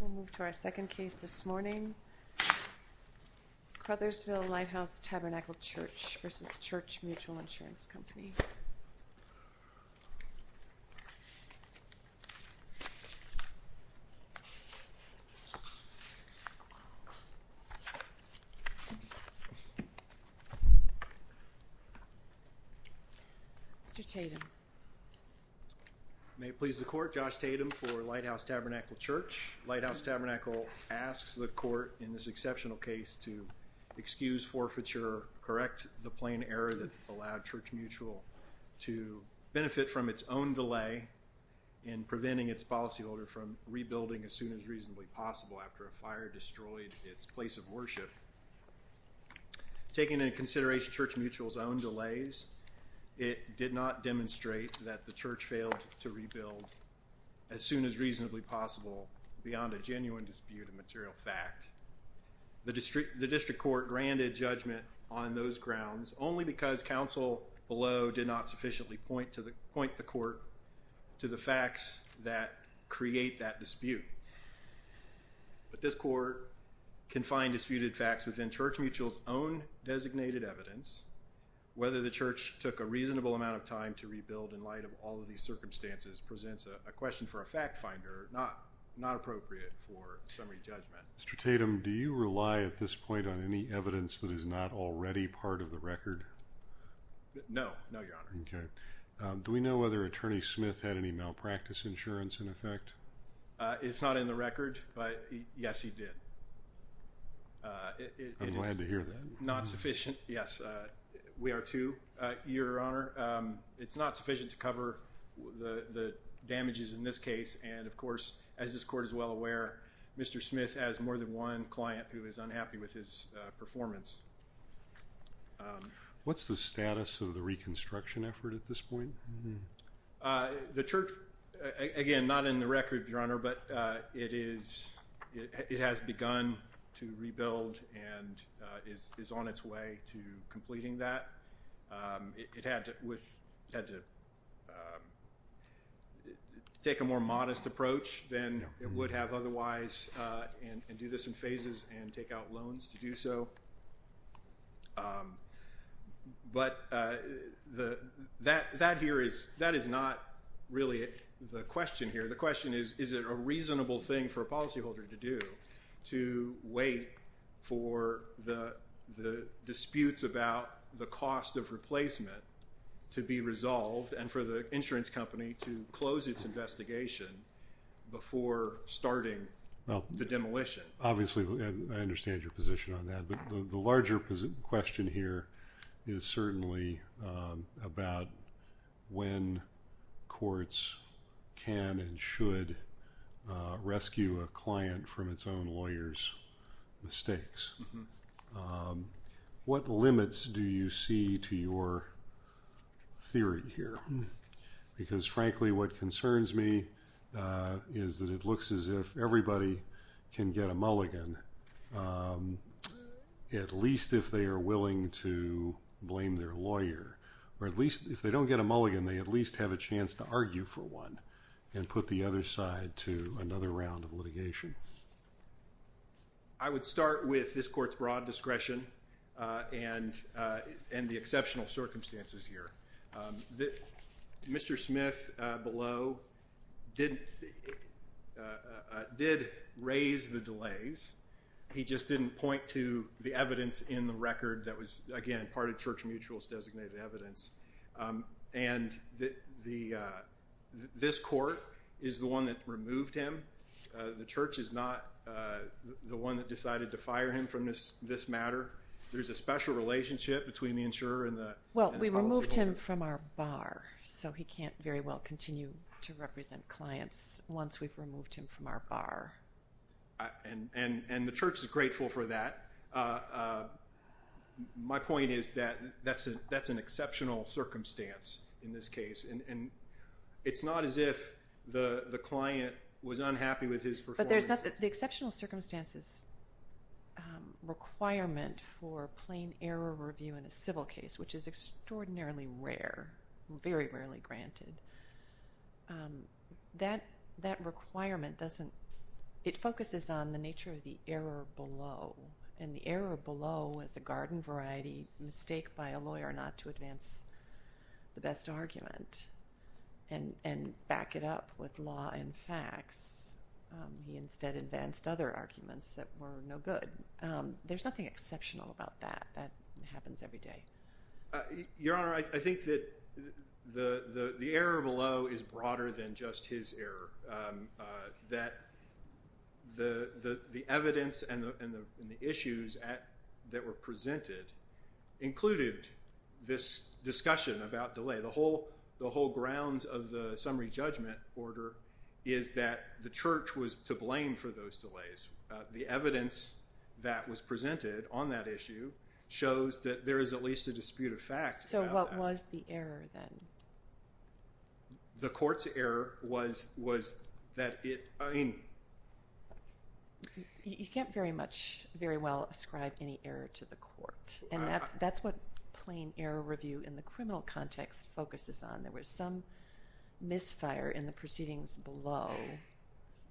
We'll move to our second case this morning, Crothersville Lighthouse Tabernacle Church v. Church Mutual Insurance Company. May it please the court, Josh Tatum for Lighthouse Tabernacle Church. Lighthouse Tabernacle asks the court in this exceptional case to excuse forfeiture, correct the plain error that allowed Church Mutual to benefit from its own delay in preventing its policyholder from rebuilding as soon as reasonably possible after a fire destroyed its place of worship. Taking into consideration Church Mutual's own delays, it did not demonstrate that the church failed to rebuild as soon as reasonably possible beyond a genuine dispute of material fact. The district court granted judgment on those grounds only because counsel below did not sufficiently point the court to the facts that create that dispute. But this court can find disputed facts within Church Mutual's own designated evidence. Whether the church took a reasonable amount of time to rebuild in light of all of these circumstances presents a question for a fact finder, not appropriate for summary judgment. Mr. Tatum, do you rely at this point on any evidence that is not already part of the record? No, no, your honor. Okay. Do we know whether Attorney Smith had any malpractice insurance in effect? It's not in the record, but yes, he did. I'm glad to hear that. Yes, we are too, your honor. It's not sufficient to cover the damages in this case. And of course, as this court is well aware, Mr. Smith has more than one client who is unhappy with his performance. What's the status of the reconstruction effort at this point? The church, again, not in the record, your honor, but it has begun to rebuild and is on its way to completing that. It had to take a more modest approach than it would have otherwise and do this in phases and take out loans to do so. But that here is not really the question here. The question is, is it a reasonable thing for a policyholder to do to wait for the disputes about the cost of replacement to be resolved and for the insurance company to close its investigation before starting the demolition? Obviously, I understand your position on that. But the larger question here is certainly about when courts can and should rescue a client from its own lawyer's mistakes. What limits do you see to your theory here? Because frankly, what concerns me is that it looks as if everybody can get a mulligan, at least if they are willing to blame their lawyer, or at least if they don't get a mulligan, they at least have a chance to argue for one and put the other side to another round of litigation. I would start with this court's broad discretion and the exceptional circumstances here. Mr. Smith below did raise the delays. He just didn't point to the evidence in the record that was, again, part of Church Mutual's designated evidence. And this court is the one that removed him. The Church is not the one that decided to fire him from this matter. There's a special relationship between the insurer and the policyholder. Well, we removed him from our bar, so he can't very well continue to represent clients once we've removed him from our bar. And the Church is grateful for that. My point is that that's an exceptional circumstance in this case. It's not as if the client was unhappy with his performance. But the exceptional circumstances requirement for plain error review in a civil case, which is extraordinarily rare, very rarely granted, that requirement focuses on the nature of the error below. And the error below is a garden variety mistake by a lawyer not to advance the best argument and back it up with law and facts. He instead advanced other arguments that were no good. There's nothing exceptional about that. That happens every day. Your Honor, I think that the error below is broader than just his error. That the evidence and the issues that were presented included this discussion about delay. The whole grounds of the summary judgment order is that the Church was to blame for those delays. The evidence that was presented on that issue shows that there is at least a dispute of fact. So what was the error then? The court's error was that it, I mean... You can't very much, very well ascribe any error to the court. And that's what plain error review in the criminal context focuses on. There was some misfire in the proceedings below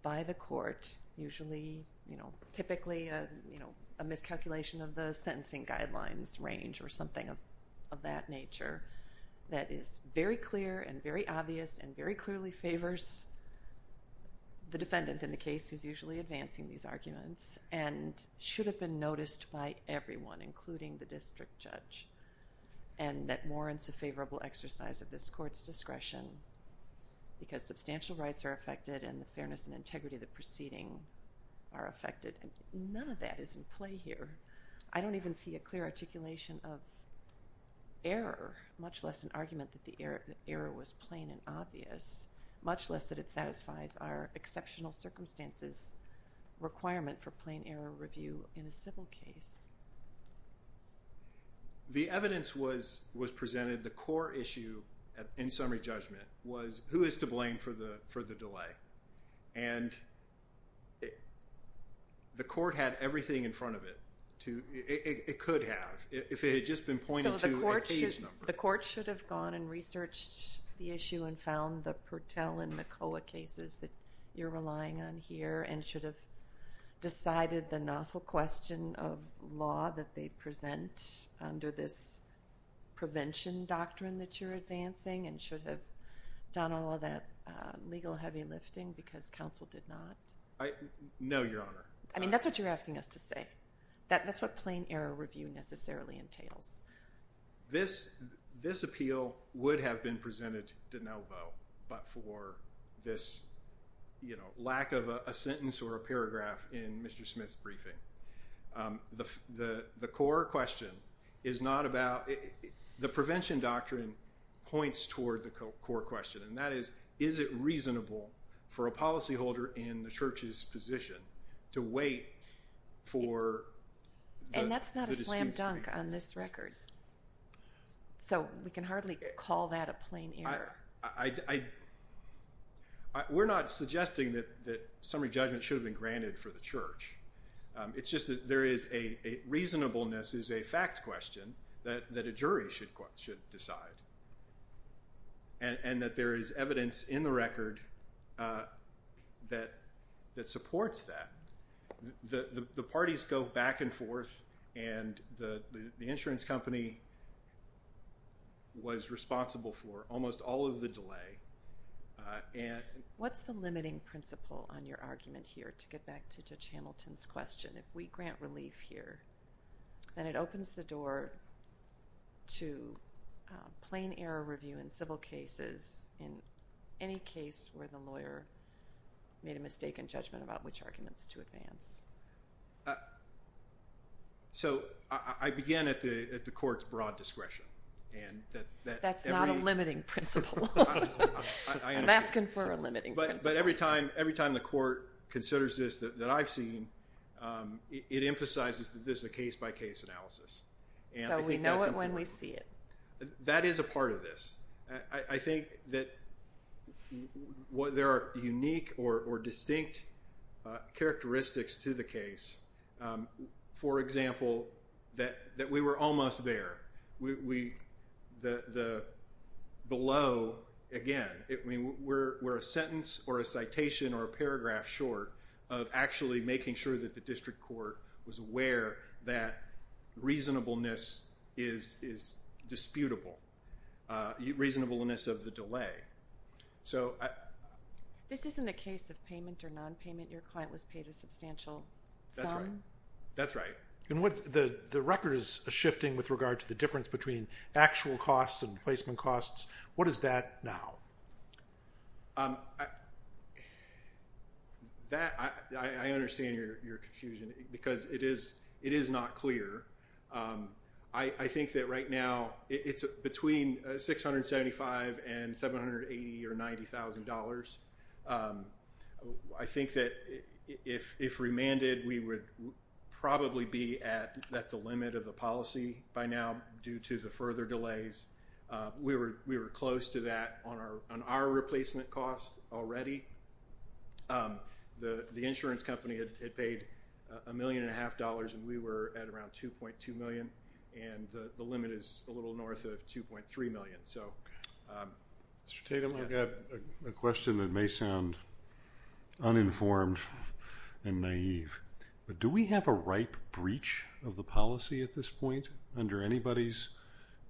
by the court, typically a miscalculation of the sentencing guidelines range or something of that nature that is very clear and very obvious and very clearly favors the defendant in the case who's usually advancing these arguments and should have been noticed by everyone, including the district judge. And that warrants a favorable exercise of this court's discretion because substantial rights are affected and the fairness and integrity of the proceeding are affected. And none of that is in play here. I don't even see a clear articulation of error, much less an argument that the error was plain and obvious, much less that it satisfies our exceptional circumstances requirement for plain error review in a civil case. The evidence was presented. The core issue in summary judgment was who is to blame for the delay. And the court had everything in front of it. It could have if it had just been pointed to a page number. So the court should have gone and researched the issue and found the Pertell and McCulloch cases that you're relying on here and should have decided the novel question of law that they present under this prevention doctrine that you're advancing and should have done all that legal heavy lifting because counsel did not. No, Your Honor. I mean, that's what you're asking us to say. That's what plain error review necessarily entails. This appeal would have been presented de novo, but for this lack of a sentence or a paragraph in Mr. Smith's briefing. The core question is not about the prevention doctrine points toward the core question, and that is, is it reasonable for a policyholder in the church's position to wait for. And that's not a slam dunk on this record. So we can hardly call that a plain error. We're not suggesting that summary judgment should have been granted for the church. It's just that there is a reasonableness is a fact question that a jury should decide. And that there is evidence in the record that supports that. The parties go back and forth, and the insurance company was responsible for almost all of the delay. What's the limiting principle on your argument here, to get back to Judge Hamilton's question? If we grant relief here, then it opens the door to plain error review in civil cases, in any case where the lawyer made a mistake in judgment about which arguments to advance. So I began at the court's broad discretion. That's not a limiting principle. I'm asking for a limiting principle. But every time the court considers this that I've seen, it emphasizes that this is a case-by-case analysis. So we know it when we see it. That is a part of this. I think that there are unique or distinct characteristics to the case. For example, that we were almost there. Below, again, we're a sentence or a citation or a paragraph short of actually making sure that the district court was aware that reasonableness is disputable. Reasonableness of the delay. This isn't a case of payment or nonpayment. Your client was paid a substantial sum. That's right. The record is shifting with regard to the difference between actual costs and placement costs. What is that now? I understand your confusion, because it is not clear. I think that right now it's between $675,000 and $780,000 or $90,000. I think that if remanded, we would probably be at the limit of the policy by now due to the further delays. We were close to that on our replacement costs already. The insurance company had paid $1.5 million, and we were at around $2.2 million. The limit is a little north of $2.3 million. Mr. Tatum, I've got a question that may sound uninformed and naive. Do we have a ripe breach of the policy at this point under anybody's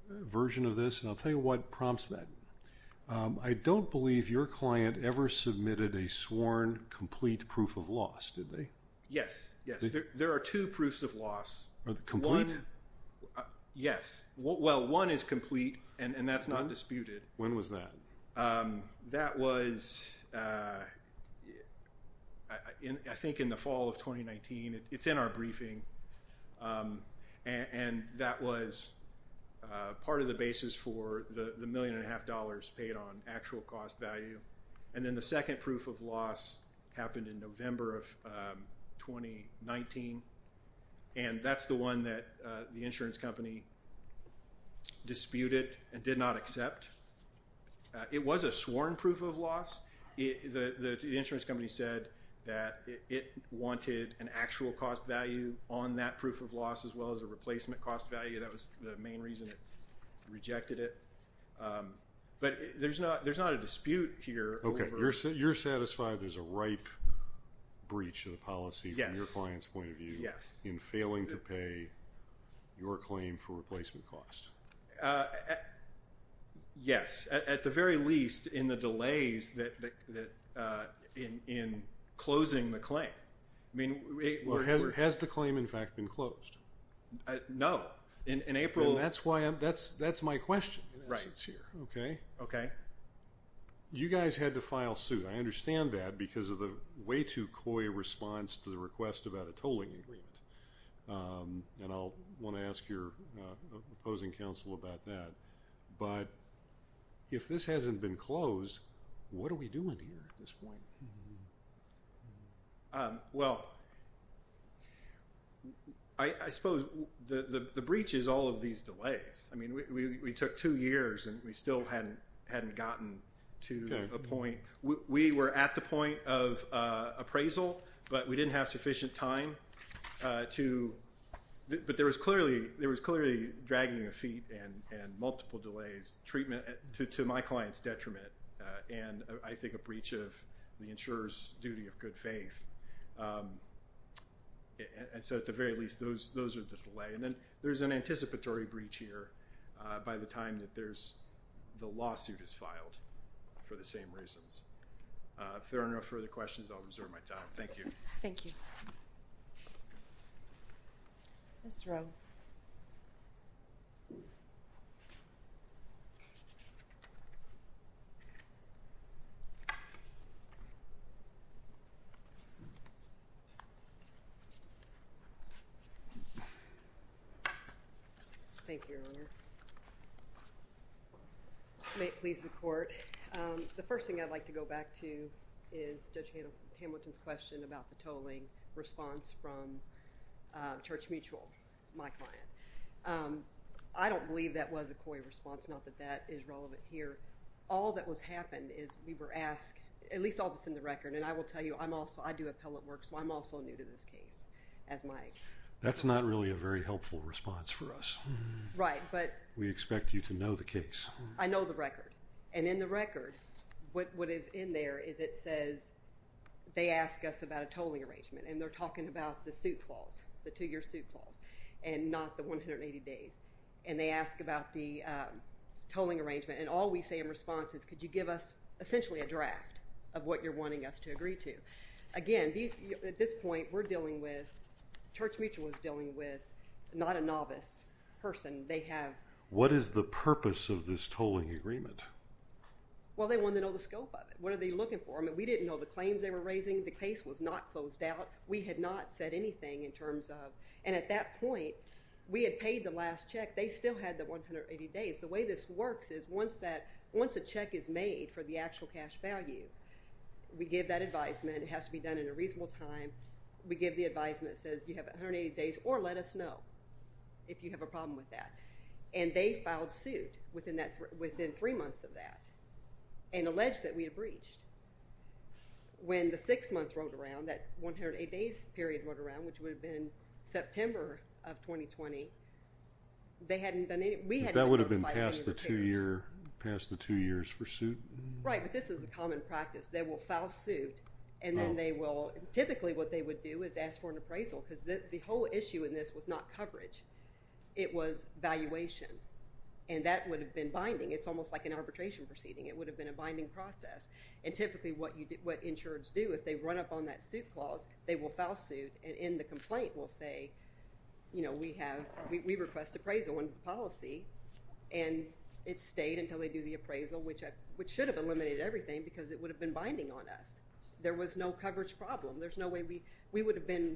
version of this? I'll tell you what prompts that. I don't believe your client ever submitted a sworn complete proof of loss, did they? Yes. There are two proofs of loss. Complete? Yes. Well, one is complete, and that's not disputed. When was that? That was, I think, in the fall of 2019. It's in our briefing. And that was part of the basis for the $1.5 million paid on actual cost value. And then the second proof of loss happened in November of 2019. And that's the one that the insurance company disputed and did not accept. The insurance company said that it wanted an actual cost value on that proof of loss as well as a replacement cost value. That was the main reason it rejected it. But there's not a dispute here. Okay. You're satisfied there's a ripe breach of the policy from your client's point of view in failing to pay your claim for replacement cost? Yes. At the very least, in the delays in closing the claim. Has the claim, in fact, been closed? No. In April. That's my question. Right. Okay. Okay. You guys had to file suit. I understand that because of the way too coy response to the request about a tolling agreement. And I'll want to ask your opposing counsel about that. But if this hasn't been closed, what are we doing here at this point? Well, I suppose the breach is all of these delays. I mean, we took two years and we still hadn't gotten to a point. We were at the point of appraisal, but we didn't have sufficient time to. But there was clearly dragging of feet and multiple delays, treatment to my client's detriment, and I think a breach of the insurer's duty of good faith. And so at the very least, those are the delay. And then there's an anticipatory breach here by the time that the lawsuit is filed for the same reasons. If there are no further questions, I'll reserve my time. Thank you. Thank you. Ms. Rowe. Thank you, Your Honor. May it please the Court. The first thing I'd like to go back to is Judge Hamilton's question about the tolling response from Church Mutual, my client. I don't believe that was a coy response, not that that is relevant here. All that has happened is we were asked, at least all this in the record, and I will tell you I do appellate work, so I'm also new to this case as my... That's not really a very helpful response for us. Right, but... We expect you to know the case. I know the record. And in the record, what is in there is it says they ask us about a tolling arrangement. And they're talking about the suit clause, the two-year suit clause, and not the 180 days. And they ask about the tolling arrangement. And all we say in response is could you give us essentially a draft of what you're wanting us to agree to. Again, at this point, we're dealing with... Church Mutual is dealing with not a novice person. What is the purpose of this tolling agreement? Well, they want to know the scope of it. What are they looking for? We didn't know the claims they were raising. The case was not closed out. We had not said anything in terms of... And at that point, we had paid the last check. They still had the 180 days. The way this works is once a check is made for the actual cash value, we give that advisement. It has to be done in a reasonable time. We give the advisement that says you have 180 days or let us know if you have a problem with that. And they filed suit within three months of that and alleged that we had breached. When the six-months rolled around, that 180 days period rolled around, which would have been September of 2020, they hadn't done anything. That would have been past the two years for suit? Right, but this is a common practice. They will file suit, and then they will... Typically, what they would do is ask for an appraisal because the whole issue in this was not coverage. It was valuation, and that would have been binding. It's almost like an arbitration proceeding. It would have been a binding process. And typically, what insurers do, if they run up on that suit clause, they will file suit and in the complaint will say, we request appraisal on policy, and it stayed until they do the appraisal, which should have eliminated everything because it would have been binding on us. There was no coverage problem. We would have been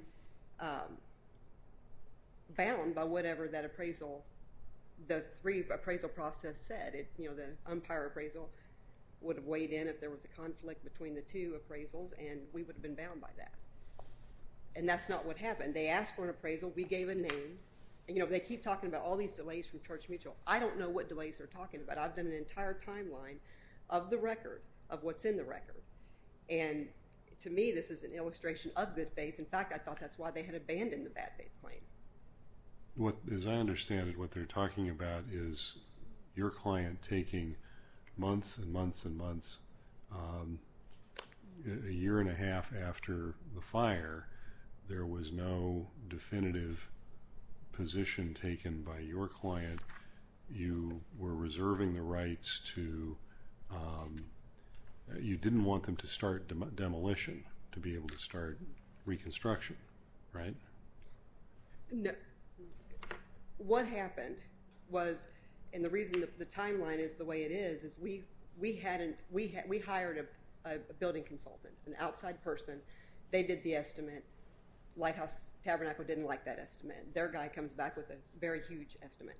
bound by whatever that appraisal, the three appraisal process said. The umpire appraisal would have weighed in if there was a conflict between the two appraisals, and we would have been bound by that. And that's not what happened. They asked for an appraisal. We gave a name. They keep talking about all these delays from Church Mutual. I don't know what delays they're talking about. I've done an entire timeline of the record, of what's in the record. And to me, this is an illustration of good faith. In fact, I thought that's why they had abandoned the bad faith claim. As I understand it, what they're talking about is your client taking months and months and months, a year and a half after the fire, there was no definitive position taken by your client. You were reserving the rights to, you didn't want them to start demolition to be able to start reconstruction, right? No. What happened was, and the reason the timeline is the way it is, is we hired a building consultant, an outside person. They did the estimate. Lighthouse Tabernacle didn't like that estimate. Their guy comes back with a very huge estimate.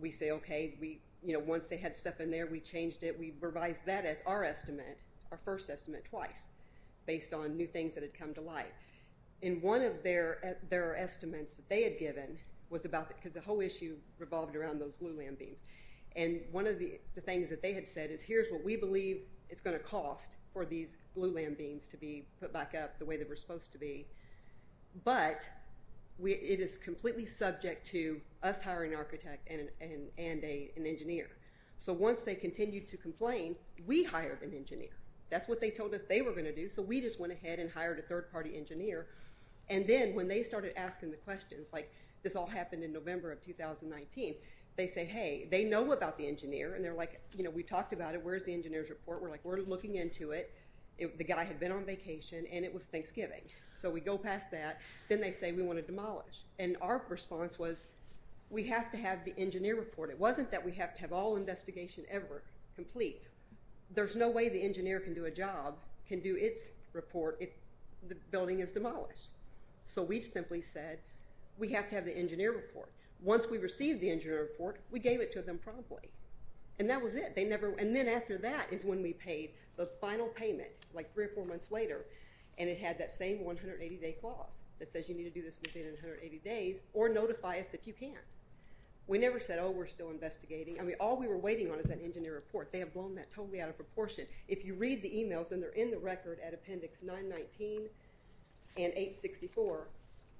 We say, okay, once they had stuff in there, we changed it. We revised that as our estimate, our first estimate, twice based on new things that had come to light. And one of their estimates that they had given was about, because the whole issue revolved around those glulam beams. And one of the things that they had said is, here's what we believe it's going to cost for these glulam beams to be put back up the way they were supposed to be. But it is completely subject to us hiring an architect and an engineer. So once they continued to complain, we hired an engineer. That's what they told us they were going to do. And so we just went ahead and hired a third-party engineer. And then when they started asking the questions, like this all happened in November of 2019, they say, hey, they know about the engineer. And they're like, you know, we talked about it. Where's the engineer's report? We're like, we're looking into it. The guy had been on vacation, and it was Thanksgiving. So we go past that. Then they say we want to demolish. And our response was, we have to have the engineer report. It wasn't that we have to have all investigation ever complete. There's no way the engineer can do a job, can do its report, if the building is demolished. So we simply said, we have to have the engineer report. Once we received the engineer report, we gave it to them promptly. And that was it. And then after that is when we paid the final payment, like three or four months later. And it had that same 180-day clause that says you need to do this within 180 days or notify us if you can. We never said, oh, we're still investigating. I mean, all we were waiting on is that engineer report. They have blown that totally out of proportion. If you read the emails, and they're in the record at Appendix 919 and 864,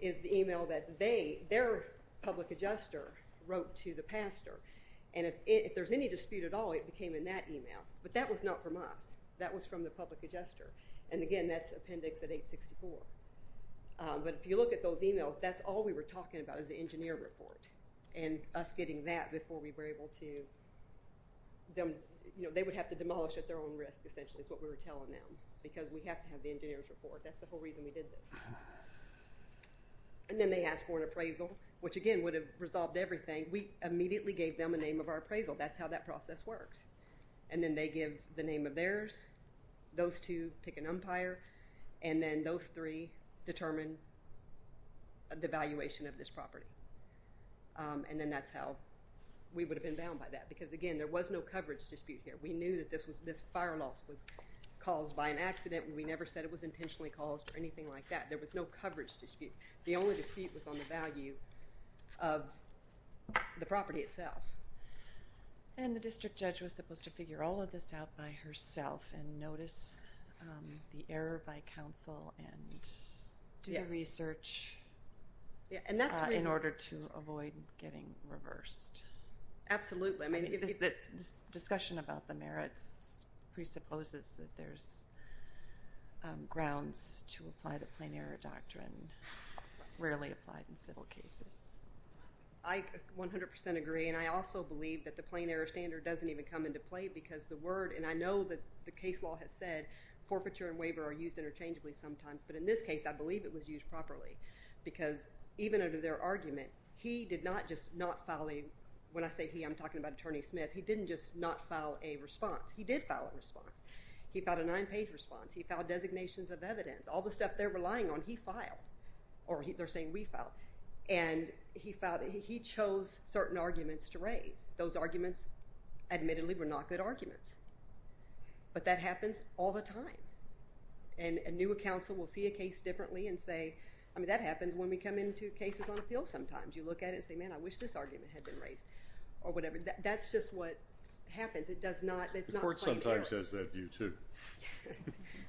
is the email that they, their public adjuster, wrote to the pastor. And if there's any dispute at all, it came in that email. But that was not from us. That was from the public adjuster. And, again, that's Appendix at 864. But if you look at those emails, that's all we were talking about is the engineer report and us getting that before we were able to, you know, they would have to demolish at their own risk essentially is what we were telling them because we have to have the engineer's report. That's the whole reason we did this. And then they asked for an appraisal, which, again, would have resolved everything. We immediately gave them a name of our appraisal. That's how that process works. And then they give the name of theirs. Those two pick an umpire. And then those three determine the valuation of this property. And then that's how we would have been bound by that. Because, again, there was no coverage dispute here. We knew that this fire loss was caused by an accident. We never said it was intentionally caused or anything like that. There was no coverage dispute. The only dispute was on the value of the property itself. And the district judge was supposed to figure all of this out by herself. And notice the error by counsel and do the research in order to avoid getting reversed. Absolutely. This discussion about the merits presupposes that there's grounds to apply the plain error doctrine, rarely applied in civil cases. I 100% agree. And I also believe that the plain error standard doesn't even come into play because the word, and I know that the case law has said, forfeiture and waiver are used interchangeably sometimes. But in this case, I believe it was used properly. Because even under their argument, he did not just not file a— when I say he, I'm talking about Attorney Smith. He didn't just not file a response. He did file a response. He filed a nine-page response. He filed designations of evidence. All the stuff they're relying on, he filed. Or they're saying we filed. And he chose certain arguments to raise. Those arguments, admittedly, were not good arguments. But that happens all the time. And a new counsel will see a case differently and say, I mean, that happens when we come into cases on appeal sometimes. You look at it and say, man, I wish this argument had been raised or whatever. That's just what happens. It's not plain error. The court sometimes has that view too.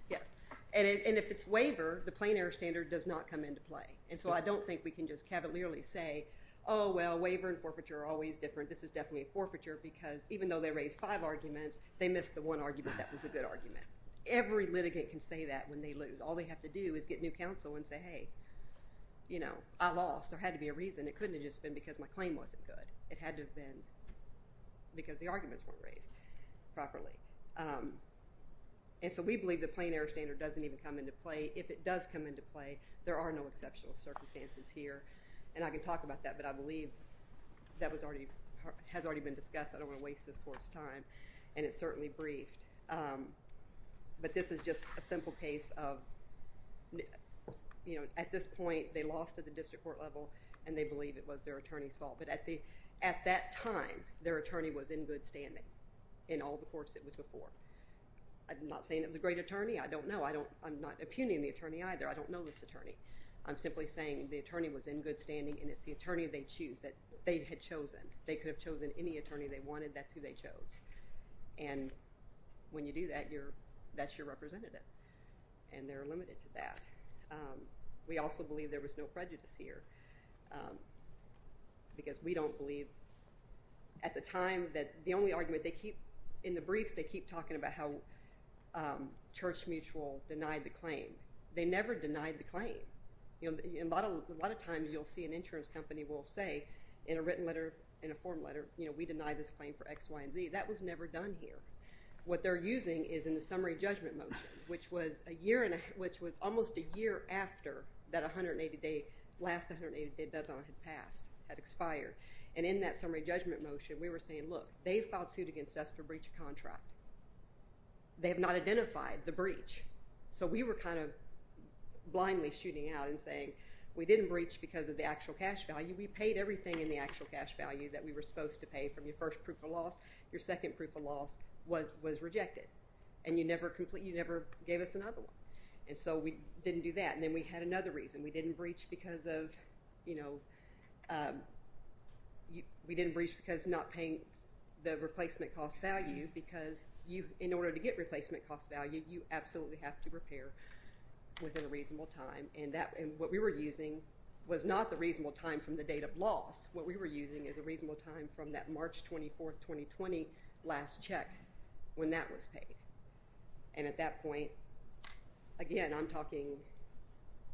Yes. And if it's waiver, the plain error standard does not come into play. And so I don't think we can just cavalierly say, oh, well, waiver and forfeiture are always different. This is definitely a forfeiture because even though they raised five arguments, they missed the one argument that was a good argument. Every litigant can say that when they lose. All they have to do is get new counsel and say, hey, I lost. There had to be a reason. It couldn't have just been because my claim wasn't good. It had to have been because the arguments weren't raised properly. And so we believe the plain error standard doesn't even come into play. If it does come into play, there are no exceptional circumstances here. And I can talk about that. But I believe that has already been discussed. I don't want to waste this court's time. And it's certainly briefed. But this is just a simple case of at this point, they lost at the district court level. And they believe it was their attorney's fault. But at that time, their attorney was in good standing in all the courts it was before. I'm not saying it was a great attorney. I'm not impugning the attorney either. I don't know this attorney. I'm simply saying the attorney was in good standing. And it's the attorney they choose that they had chosen. They could have chosen any attorney they wanted. That's who they chose. And when you do that, that's your representative. And they're limited to that. We also believe there was no prejudice here. Because we don't believe at the time that the only argument they keep in the briefs they keep talking about how Church Mutual denied the claim. They never denied the claim. A lot of times you'll see an insurance company will say in a written letter, in a form letter, we deny this claim for X, Y, and Z. That was never done here. What they're using is in the summary judgment motion, which was almost a year after that last 180-day deadline had passed, had expired. And in that summary judgment motion, we were saying, look, they filed suit against us for breach of contract. They have not identified the breach. So we were kind of blindly shooting out and saying, we didn't breach because of the actual cash value. We paid everything in the actual cash value that we were supposed to pay from your first proof of loss. Your second proof of loss was rejected. And you never gave us another one. And so we didn't do that. And then we had another reason. We didn't breach because of not paying the replacement cost value. Because in order to get replacement cost value, you absolutely have to repair within a reasonable time. And what we were using was not the reasonable time from the date of loss. What we were using is a reasonable time from that March 24, 2020, last check when that was paid. And at that point, again, I'm talking,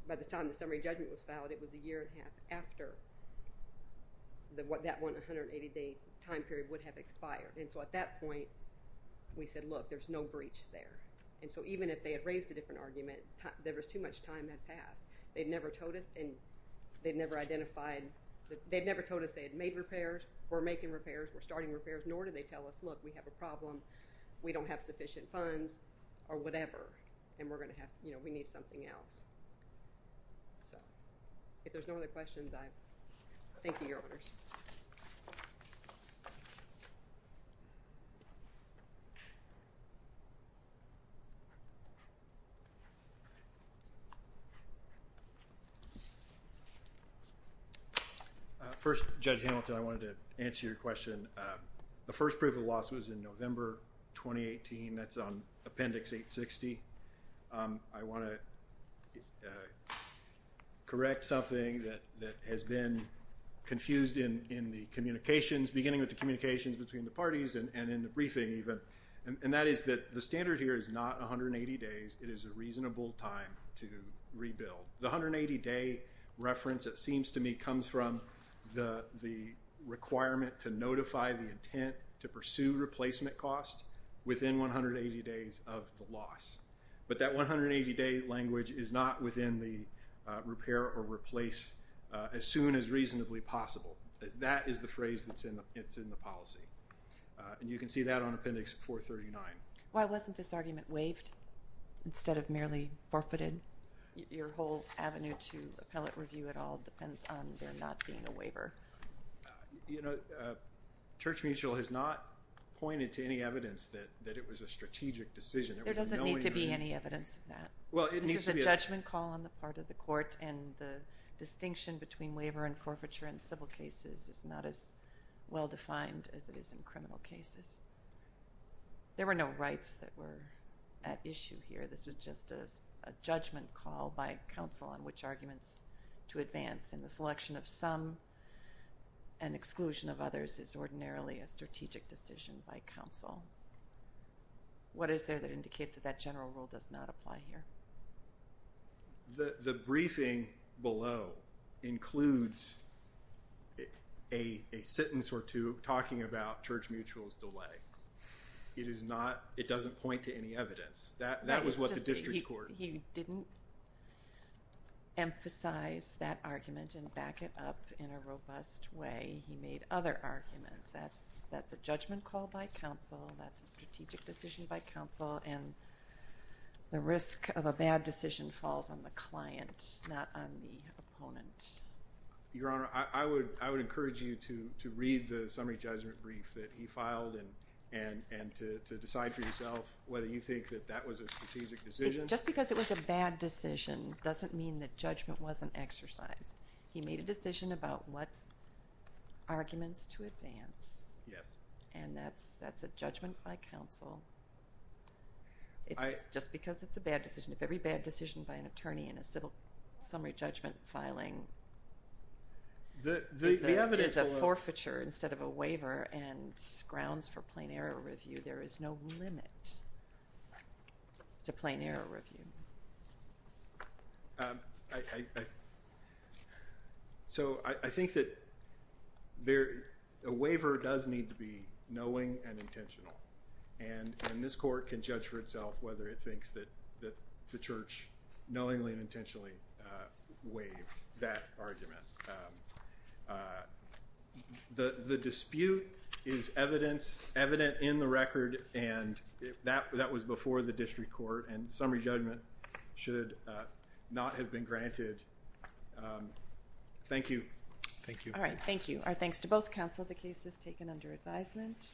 by the time the summary judgment was filed, it was a year and a half after that 180-day time period would have expired. And so at that point, we said, look, there's no breach there. And so even if they had raised a different argument, there was too much time had passed. They'd never told us and they'd never identified. They'd never told us they had made repairs or making repairs or starting repairs, nor did they tell us, look, we have a problem. We don't have sufficient funds or whatever. And we're going to have, you know, we need something else. So if there's no other questions, I thank you, Your Honors. First, Judge Hamilton, I wanted to answer your question. The first proof of loss was in November 2018. That's on Appendix 860. I want to correct something that has been confused in my mind. It has been confused in the communications, beginning with the communications between the parties and in the briefing even. And that is that the standard here is not 180 days. It is a reasonable time to rebuild. The 180-day reference, it seems to me, comes from the requirement to notify the intent to pursue replacement costs within 180 days of the loss. But that 180-day language is not within the repair or replace as soon as reasonably possible. That is the phrase that's in the policy. And you can see that on Appendix 439. Why wasn't this argument waived instead of merely forfeited? Your whole avenue to appellate review at all depends on there not being a waiver. You know, Church Mutual has not pointed to any evidence that it was a strategic decision. There doesn't need to be any evidence of that. This is a judgment call on the part of the court, and the distinction between waiver and forfeiture in civil cases is not as well-defined as it is in criminal cases. There were no rights that were at issue here. This was just a judgment call by counsel on which arguments to advance. And the selection of some and exclusion of others is ordinarily a strategic decision by counsel. What is there that indicates that that general rule does not apply here? The briefing below includes a sentence or two talking about Church Mutual's delay. It doesn't point to any evidence. That was what the district court. He didn't emphasize that argument and back it up in a robust way. He made other arguments. That's a judgment call by counsel. That's a strategic decision by counsel. And the risk of a bad decision falls on the client, not on the opponent. Your Honor, I would encourage you to read the summary judgment brief that he filed and to decide for yourself whether you think that that was a strategic decision. Just because it was a bad decision doesn't mean that judgment wasn't exercised. He made a decision about what arguments to advance, and that's a judgment by counsel. It's just because it's a bad decision. If every bad decision by an attorney in a civil summary judgment filing is a forfeiture instead of a waiver and grounds for plain error review, there is no limit to plain error review. I think that a waiver does need to be knowing and intentional, and this court can judge for itself whether it thinks that the church knowingly and intentionally waived that argument. That was before the district court, and summary judgment should not have been granted. Thank you. All right, thank you. Our thanks to both counsel. The case is taken under advisement.